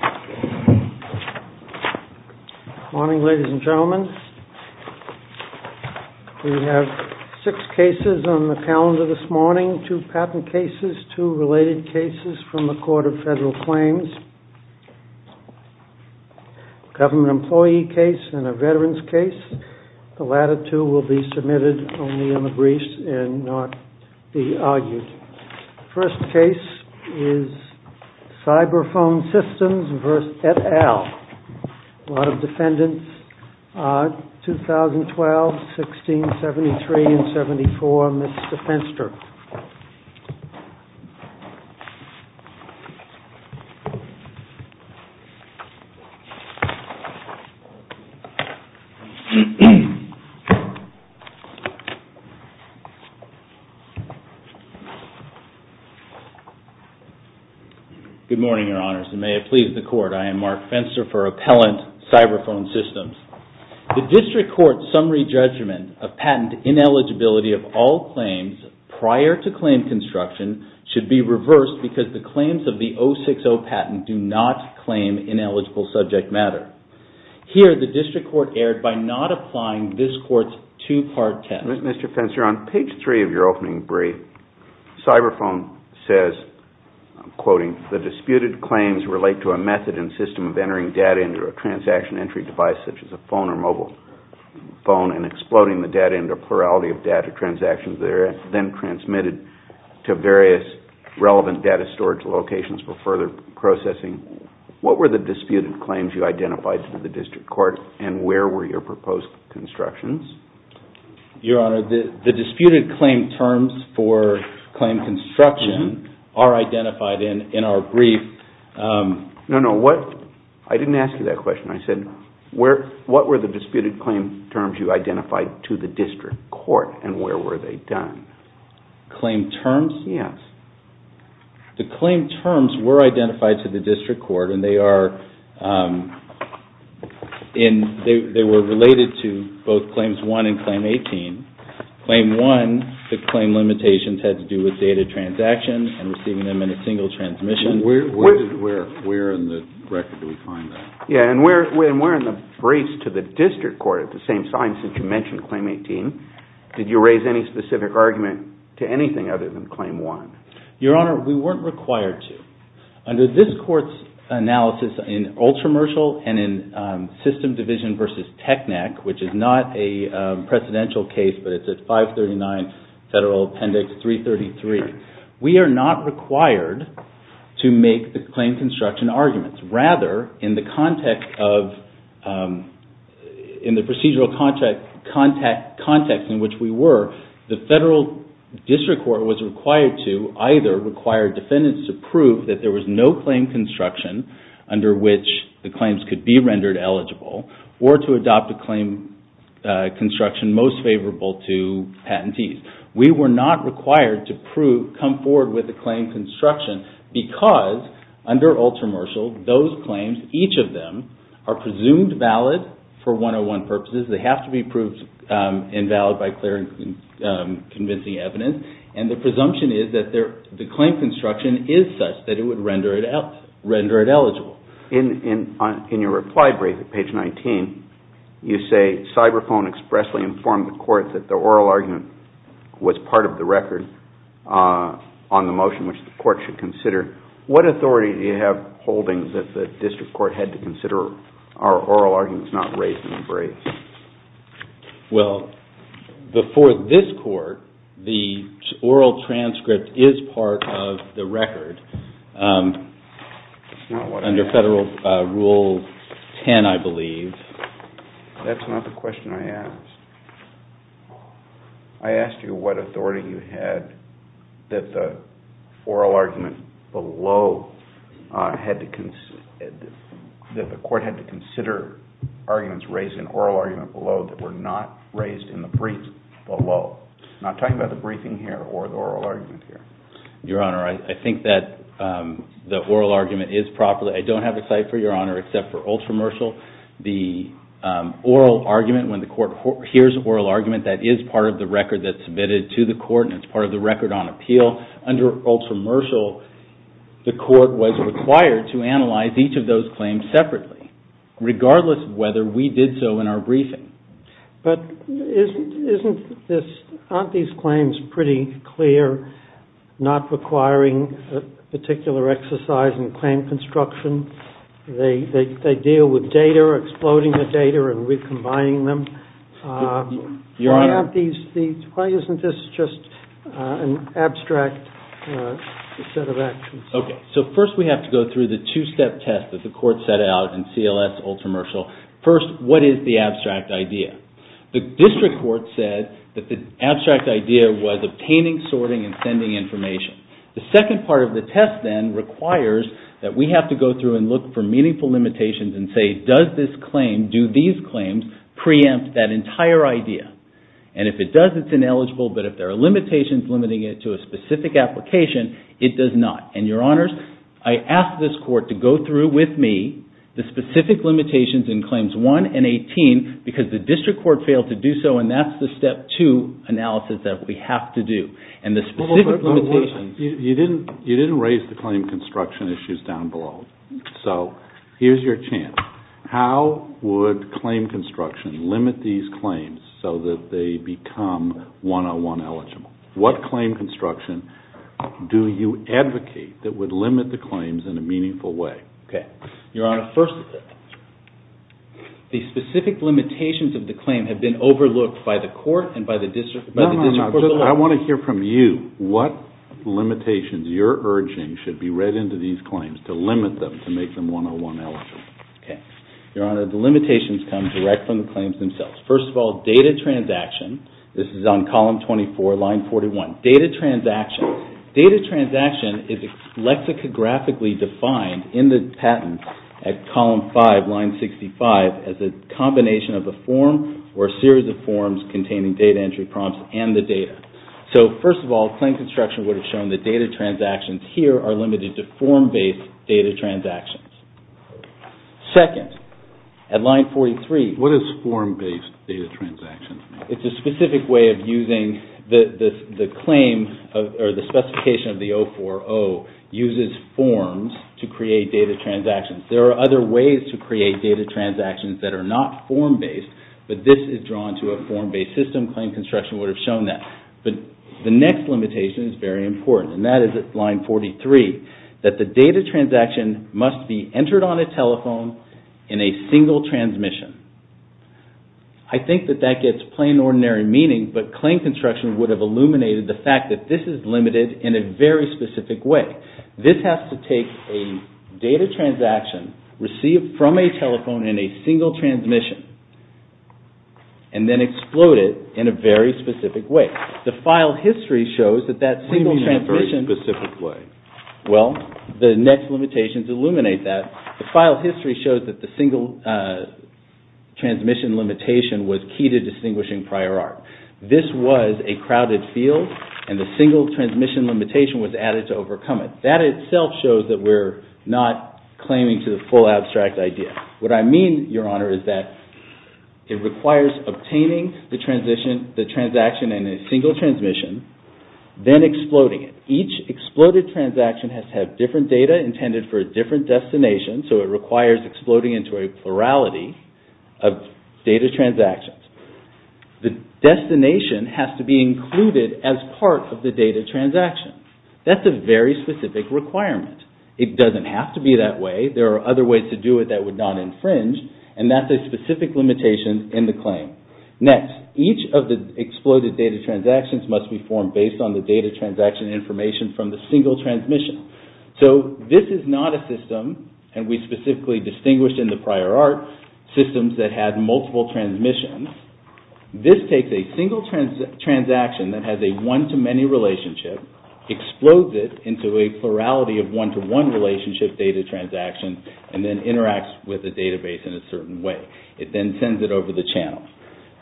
Good morning, ladies and gentlemen. We have six cases on the calendar this morning. Two patent cases, two related cases from the Court of Federal Claims, a government employee case and a veterans case. The latter two will be submitted only in the briefs and not be submitted in the briefs. Mark Fenster for Appellant CYBERFONE SYSTEMS The district court's summary judgment of patent ineligibility of all claims prior to claim construction should be reversed because the claims of the 060 patent do not claim ineligible subject matter. Here, the district court erred by not applying this court's two-part test. Mr. Fenster, on page 3 of your opening brief, CYBERFONE says, I'm quoting, The disputed claims relate to a method and system of entering data into a transaction entry device, such as a phone or mobile phone, and exploding the data into a plurality of data transactions that are then transmitted to various relevant data storage locations for further processing. What were the disputed claims you identified to the district court, and where were your proposed constructions? Your Honor, the disputed claim terms for claim construction are identified in our brief. No, no. I didn't ask you that question. I said, what were the disputed claim terms you identified to the district court, and where were they done? Claim terms? Yes. The claim terms were identified to the district court, and they were related to both Claims 1 and Claim 18. Claim 1, the claim limitations had to do with data transactions and receiving them in a single transmission. Where in the record do we find that? Yes, and we're in the briefs to the district court at the same time since you mentioned Claim 18. Did you raise any specific argument to anything other than Claim 1? Your Honor, we weren't required to. Under this court's analysis in Ultramercial and in System Division v. Technic, which is not a precedential case, but it's at 539 Federal Appendix 333, we are not required to make the claim construction arguments. Rather, in the procedural context in which we were, the federal district court was required to either require defendants to prove that there was no claim construction under which the claims could be rendered eligible, or to adopt a claim construction most favorable to patentees. We were not required to come forward with a claim construction because under Ultramercial, those claims, each of them, are presumed valid for 101 purposes. They have to be proved invalid by clear and convincing evidence, and the presumption is that the claim construction is such that it would render it eligible. In your reply brief at page 19, you say, that the oral argument was part of the record on the motion which the court should consider. What authority do you have holdings that the district court had to consider our oral arguments not raised in the brief? Well, before this court, the oral transcript is part of the record. It's not what I have. Under Federal Rule 10, I believe. That's not the question I asked. I asked you what authority you had that the oral argument below had to, that the court had to consider arguments raised in oral argument below that were not raised in the brief below. I'm not talking about the briefing here or the oral argument here. Your Honor, I think that the oral argument is properly, I don't have a cipher, Your Honor, except for ultramersal. The oral argument, when the court hears oral argument, that is part of the record that's submitted to the court, and it's part of the record on appeal. Under ultramersal, the court was required to analyze each of those claims separately, regardless of whether we did so in our briefing. But isn't this, aren't these claims pretty clear, not requiring a particular exercise in claim construction? They deal with data, exploding the data and recombining them. Your Honor. Why isn't this just an abstract set of actions? Okay. So first we have to go through the two-step test that the court set out in CLS ultramersal. First, what is the abstract idea? The district court said that the abstract idea was obtaining, sorting, and sending information. The second part of the test then requires that we have to go through and look for meaningful limitations and say, does this claim, do these claims preempt that entire idea? And if it does, it's ineligible. But if there are limitations limiting it to a specific application, it does not. And, Your Honors, I asked this court to go through with me the specific limitations in Claims 1 and 18 because the district court failed to do so and that's the step two analysis that we have to do. And the specific limitations... You didn't raise the claim construction issues down below. So here's your chance. How would claim construction limit these claims so that they become 101 eligible? What claim construction do you advocate that would limit the claims in a meaningful way? Okay. Your Honor, first, the specific limitations of the claim have been overlooked by the court and by the district court. No, no, no. I want to hear from you. What limitations you're urging should be read into these claims to limit them to make them 101 eligible? Okay. Your Honor, the limitations come directly from the claims themselves. First of all, data transaction. This is on column 24, line 41. Data transaction. Data transaction is lexicographically defined in the patent at column 5, line 65, as a combination of a form or a series of forms containing data entry prompts and the data. So, first of all, claim construction would have shown that data transactions here are limited to form-based data transactions. Second, at line 43... What is form-based data transactions? It's a specific way of using the claim or the specification of the 040 uses forms to create data transactions. There are other ways to create data transactions that are not form-based, but this is drawn to a form-based system. Claim construction would have shown that. But the next limitation is very important, and that is at line 43, that the data transaction must be entered on a telephone in a single transmission. I think that that gets plain ordinary meaning, but claim construction would have illuminated the fact that this is limited in a very specific way. This has to take a data transaction received from a telephone in a single transmission and then explode it in a very specific way. The file history shows that that single transmission... What do you mean in a very specific way? Well, the next limitations illuminate that. The file history shows that the single transmission limitation was key to distinguishing prior art. This was a crowded field, and the single transmission limitation was added to overcome it. That itself shows that we're not claiming to the full abstract idea. What I mean, Your Honor, is that it requires obtaining the transaction in a single transmission, then exploding it. Each exploded transaction has to have different data intended for a different destination, so it requires exploding into a plurality of data transactions. The destination has to be included as part of the data transaction. That's a very specific requirement. It doesn't have to be that way. There are other ways to do it that would not infringe, and that's a specific limitation in the claim. Next, each of the exploded data transactions must be formed based on the data transaction information from the single transmission. So, this is not a system, and we specifically distinguished in the prior art, systems that had multiple transmissions. This takes a single transaction that has a one-to-many relationship, explodes it into a plurality of one-to-one relationship data transactions, and then interacts with the database in a certain way. It then sends it over the channels.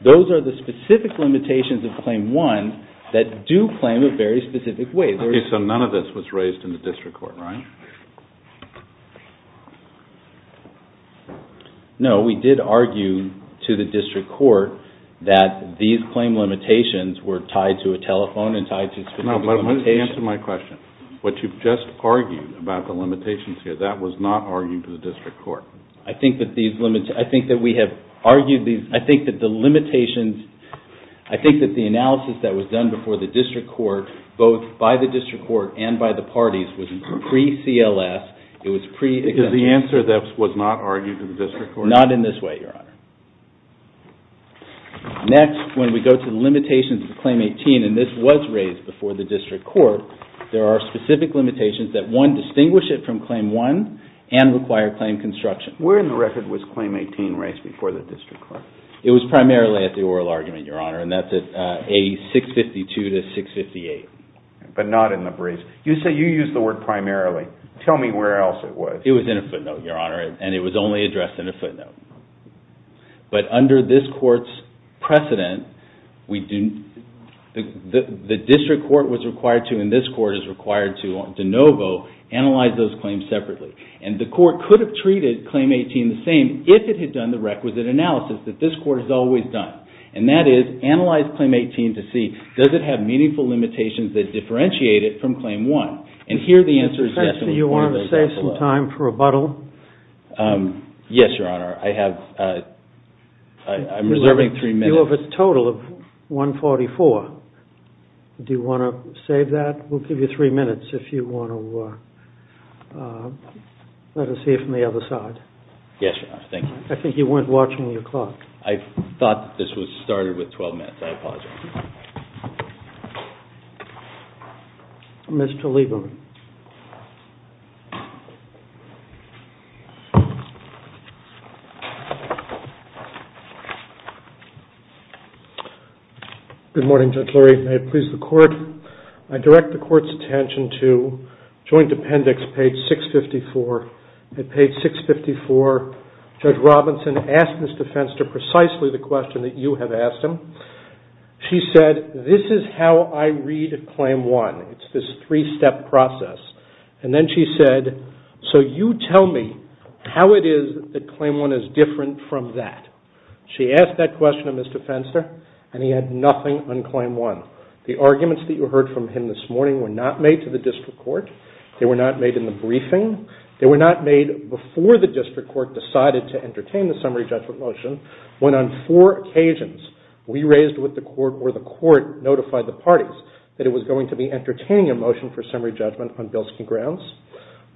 Those are the specific limitations of Claim 1 that do claim a very specific way. Okay, so none of this was raised in the district court, right? No, we did argue to the district court that these claim limitations were tied to a telephone and tied to specific limitations. No, but answer my question. What you've just argued about the limitations here, that was not argued to the district court. I think that we have argued these, I think that the limitations, I think that the analysis that was done before the district court, both by the district court and by the parties, was pre-CLS. Because the answer that was not argued to the district court? Not in this way, Your Honor. Next, when we go to the limitations of Claim 18, and this was raised before the district court, there are specific limitations that, one, distinguish it from Claim 1 and require claim construction. Where in the record was Claim 18 raised before the district court? It was primarily at the oral argument, Your Honor, and that's at A652-658. But not in the briefs. You say you used the word primarily. Tell me where else it was. It was in a footnote, Your Honor, and it was only addressed in a footnote. But under this court's precedent, the district court was required to, and this court is required to, de novo, analyze those claims separately. And the court could have treated Claim 18 the same, if it had done the requisite analysis that this court has always done. And that is, analyze Claim 18 to see, does it have meaningful limitations that differentiate it from Claim 1? And here the answer is definitely one of those as well. You want to save some time for rebuttal? Yes, Your Honor. I have, I'm reserving three minutes. You have a total of 144. Do you want to save that? We'll give you three minutes if you want to let us hear from the other side. Yes, Your Honor. Thank you. I think you weren't watching your clock. I thought that this was started with 12 minutes. I apologize. Mr. Lieberman. Good morning, Judge Lurie. May it please the Court. I direct the Court's attention to Joint Appendix, page 654. At page 654, Judge Robinson asked Ms. DeFenster precisely the question that you have asked him. She said, this is how I read Claim 1. It's this three-step process. And then she said, so you tell me, how it is that Claim 1 is different from that? She asked that question of Mr. DeFenster, and he had nothing on Claim 1. The arguments that you heard from him this morning were not made to the district court. They were not made in the briefing. They were not made before the district court decided to entertain the summary judgment motion, when on four occasions we raised with the court or the court notified the parties that it was going to be entertaining a motion for summary judgment on Bilski grounds.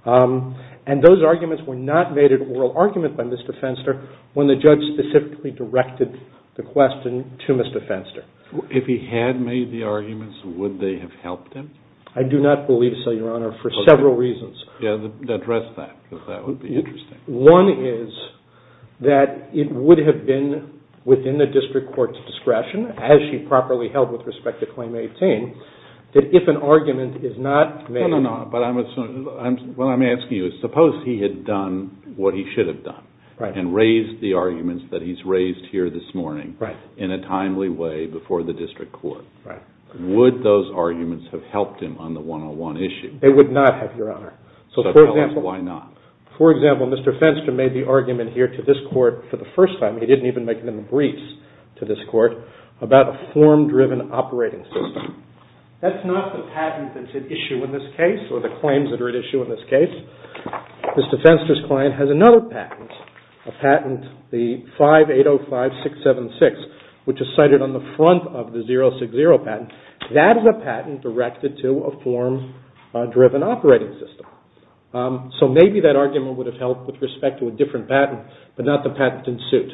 And those arguments were not made an oral argument by Mr. DeFenster when the judge specifically directed the question to Mr. DeFenster. If he had made the arguments, would they have helped him? I do not believe so, Your Honor, for several reasons. Address that, because that would be interesting. One is that it would have been within the district court's discretion, as she properly held with respect to Claim 18, that if an argument is not made. No, no, no, but what I'm asking you is suppose he had done what he should have done and raised the arguments that he's raised here this morning in a timely way before the district court. Would those arguments have helped him on the 101 issue? They would not have, Your Honor. So tell us why not. For example, Mr. DeFenster made the argument here to this court for the first time. He didn't even make them briefs to this court about a form-driven operating system. That's not the patent that's at issue in this case or the claims that are at issue in this case. Mr. DeFenster's client has another patent, a patent, the 5805676, which is cited on the front of the 060 patent. That is a patent directed to a form-driven operating system. So maybe that argument would have helped with respect to a different patent, but not the patent in suit.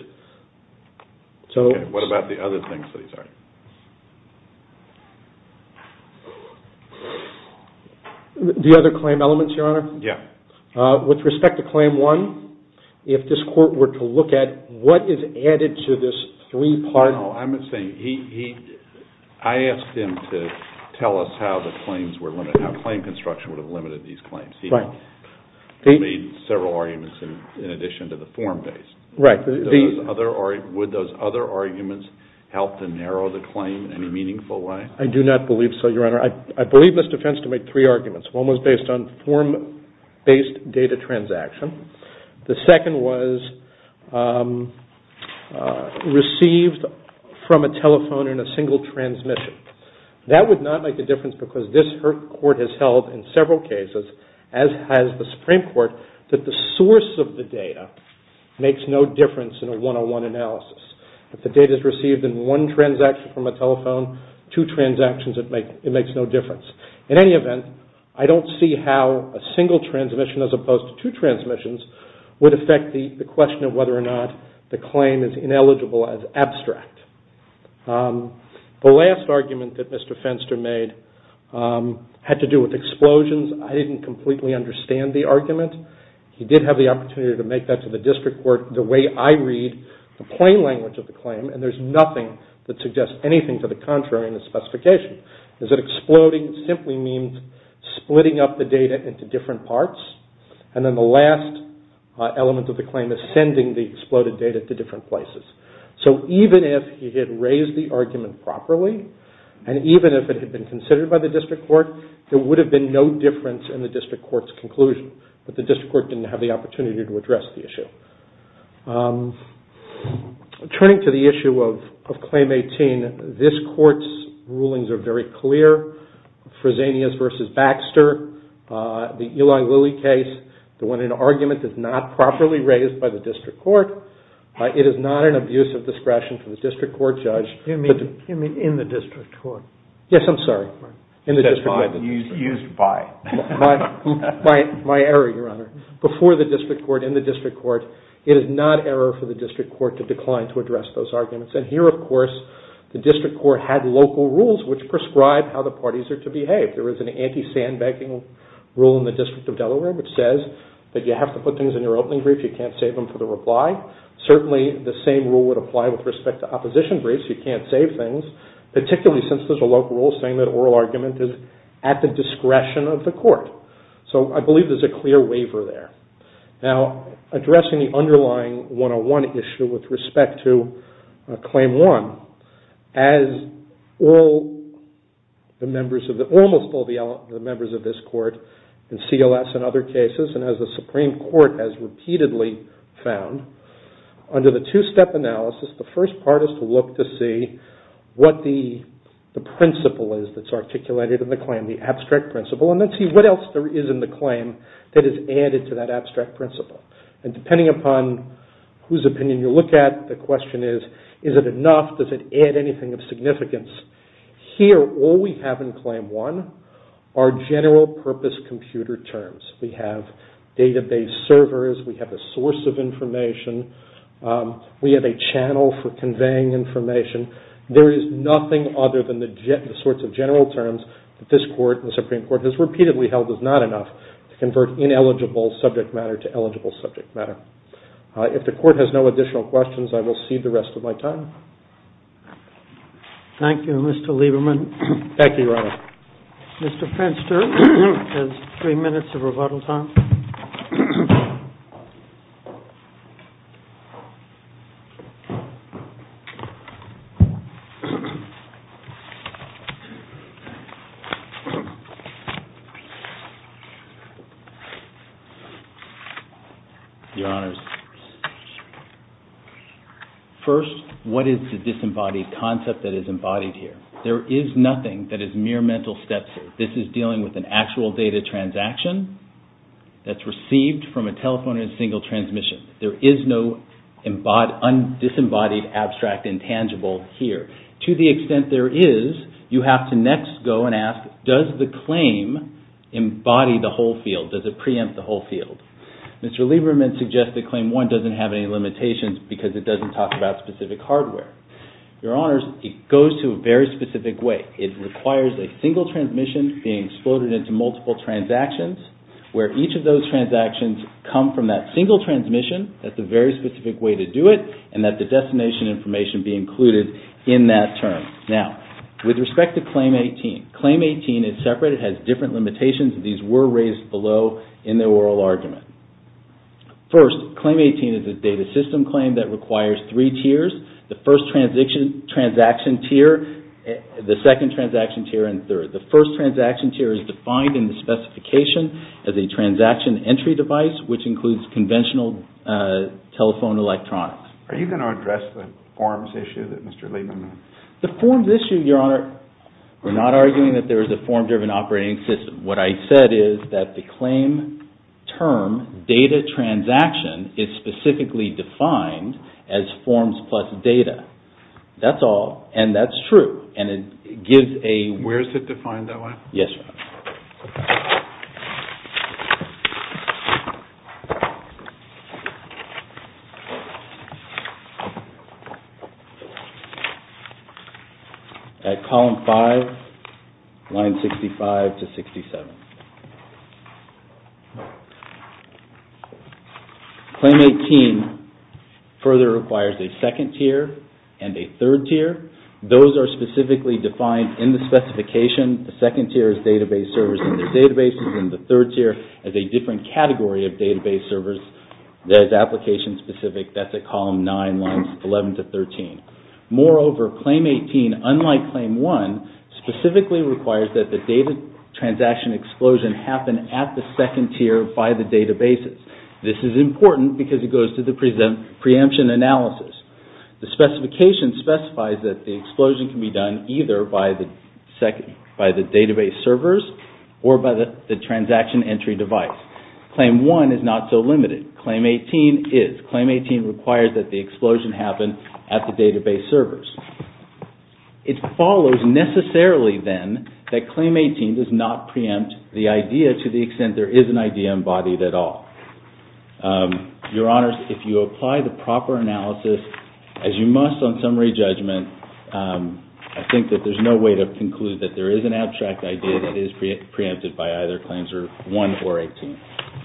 Okay, what about the other things that he's argued? The other claim elements, Your Honor? Yeah. With respect to claim one, if this court were to look at what is added to this three-part... No, I'm saying he, I asked him to tell us how the claims were limited, how claim construction would have limited these claims. He made several arguments in addition to the form-based. Right. Would those other arguments help to narrow the claim in any meaningful way? I do not believe so, Your Honor. I believe Mr. Fenster made three arguments. One was based on form-based data transaction. The second was received from a telephone in a single transmission. That would not make a difference because this court has held in several cases, as has the Supreme Court, that the source of the data makes no difference in a one-on-one analysis. If the data is received in one transaction from a telephone, two transactions, it makes no difference. In any event, I don't see how a single transmission as opposed to two transmissions would affect the question of whether or not the claim is ineligible as abstract. The last argument that Mr. Fenster made had to do with explosions. I didn't completely understand the argument. He did have the opportunity to make that to the district court the way I read the plain language of the claim, and there's nothing that suggests anything to the contrary in the specification. Is it exploding? It simply means splitting up the data into different parts, and then the last element of the claim is sending the exploded data to different places. So even if he had raised the argument properly, and even if it had been considered by the district court, there would have been no difference in the district court's conclusion, but the district court didn't have the opportunity to address the issue. Turning to the issue of Claim 18, this court's rulings are very clear. Fresenius v. Baxter, the Eli Lilly case, the one in argument is not properly raised by the district court. It is not an abuse of discretion from the district court judge. You mean in the district court? Yes, I'm sorry. In the district court. Used by. My error, Your Honor. Before the district court, in the district court, it is not error for the district court to decline to address those arguments. And here, of course, the district court had local rules which prescribe how the parties are to behave. There is an anti-sandbagging rule in the District of Delaware, which says that you have to put things in your opening brief, you can't save them for the reply. Certainly, the same rule would apply with respect to opposition briefs. Particularly since there is a local rule saying that oral argument is at the discretion of the court. So, I believe there is a clear waiver there. Now, addressing the underlying 101 issue with respect to Claim 1, as almost all the members of this court in CLS and other cases, and as the Supreme Court has repeatedly found, under the two-step analysis, the first part is to look to see what the principle is that is articulated in the claim, the abstract principle, and then see what else there is in the claim that is added to that abstract principle. And depending upon whose opinion you look at, the question is, is it enough, does it add anything of significance? Here, all we have in Claim 1 are general purpose computer terms. We have database servers. We have a source of information. We have a channel for conveying information. There is nothing other than the sorts of general terms that this court, the Supreme Court, has repeatedly held is not enough to convert ineligible subject matter to eligible subject matter. If the court has no additional questions, I will cede the rest of my time. Thank you, Mr. Lieberman. Thank you, Your Honor. Mr. Fenster has three minutes of rebuttal time. Your Honors, first, what is the disembodied concept that is embodied here? There is nothing that is mere mental steps. This is dealing with an actual data transaction that is received from a telephone in a single transmission. There is no disembodied, abstract, intangible here. To the extent there is, you have to next go and ask, does the claim embody the whole field? Does it preempt the whole field? Mr. Lieberman suggests that Claim 1 doesn't have any limitations because it doesn't talk about specific hardware. Your Honors, it goes to a very specific way. It requires a single transmission being exploded into multiple transactions where each of those transactions come from that single transmission. That is a very specific way to do it and that the destination information be included in that term. Now, with respect to Claim 18, Claim 18 is separate. It has different limitations. These were raised below in the oral argument. First, Claim 18 is a data system claim that requires three tiers. The first transaction tier, the second transaction tier, and third. The first transaction tier is defined in the specification as a transaction entry device which includes conventional telephone electronics. Are you going to address the forms issue that Mr. Lieberman mentioned? The forms issue, Your Honor, we're not arguing that there is a form-driven operating system. What I said is that the claim term, data transaction, is specifically defined as forms plus data. That's all, and that's true. Where is it defined that way? Yes, Your Honor. At column 5, line 65 to 67. Claim 18 further requires a second tier and a third tier. Those are specifically defined in the specification. The second tier is database servers and their databases, and the third tier is a different category of database servers that is application-specific. That's at column 9, lines 11 to 13. Moreover, Claim 18, unlike Claim 1, specifically requires that the data transaction explosion happen at the second tier by the databases. This is important because it goes to the preemption analysis. The specification specifies that the explosion can be done either by the database servers or by the transaction entry device. Claim 1 is not so limited. Claim 18 is. Claim 18 requires that the explosion happen at the database servers. It follows, necessarily, then, that Claim 18 does not preempt the idea to the extent there is an idea embodied at all. Your Honor, if you apply the proper analysis, as you must on summary judgment, I think that there's no way to conclude that there is an abstract idea that is preempted by either Claims 1 or 18.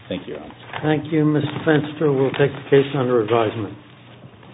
Thank you, Your Honor. Thank you, Mr. Fenster. We'll take the case under advisement.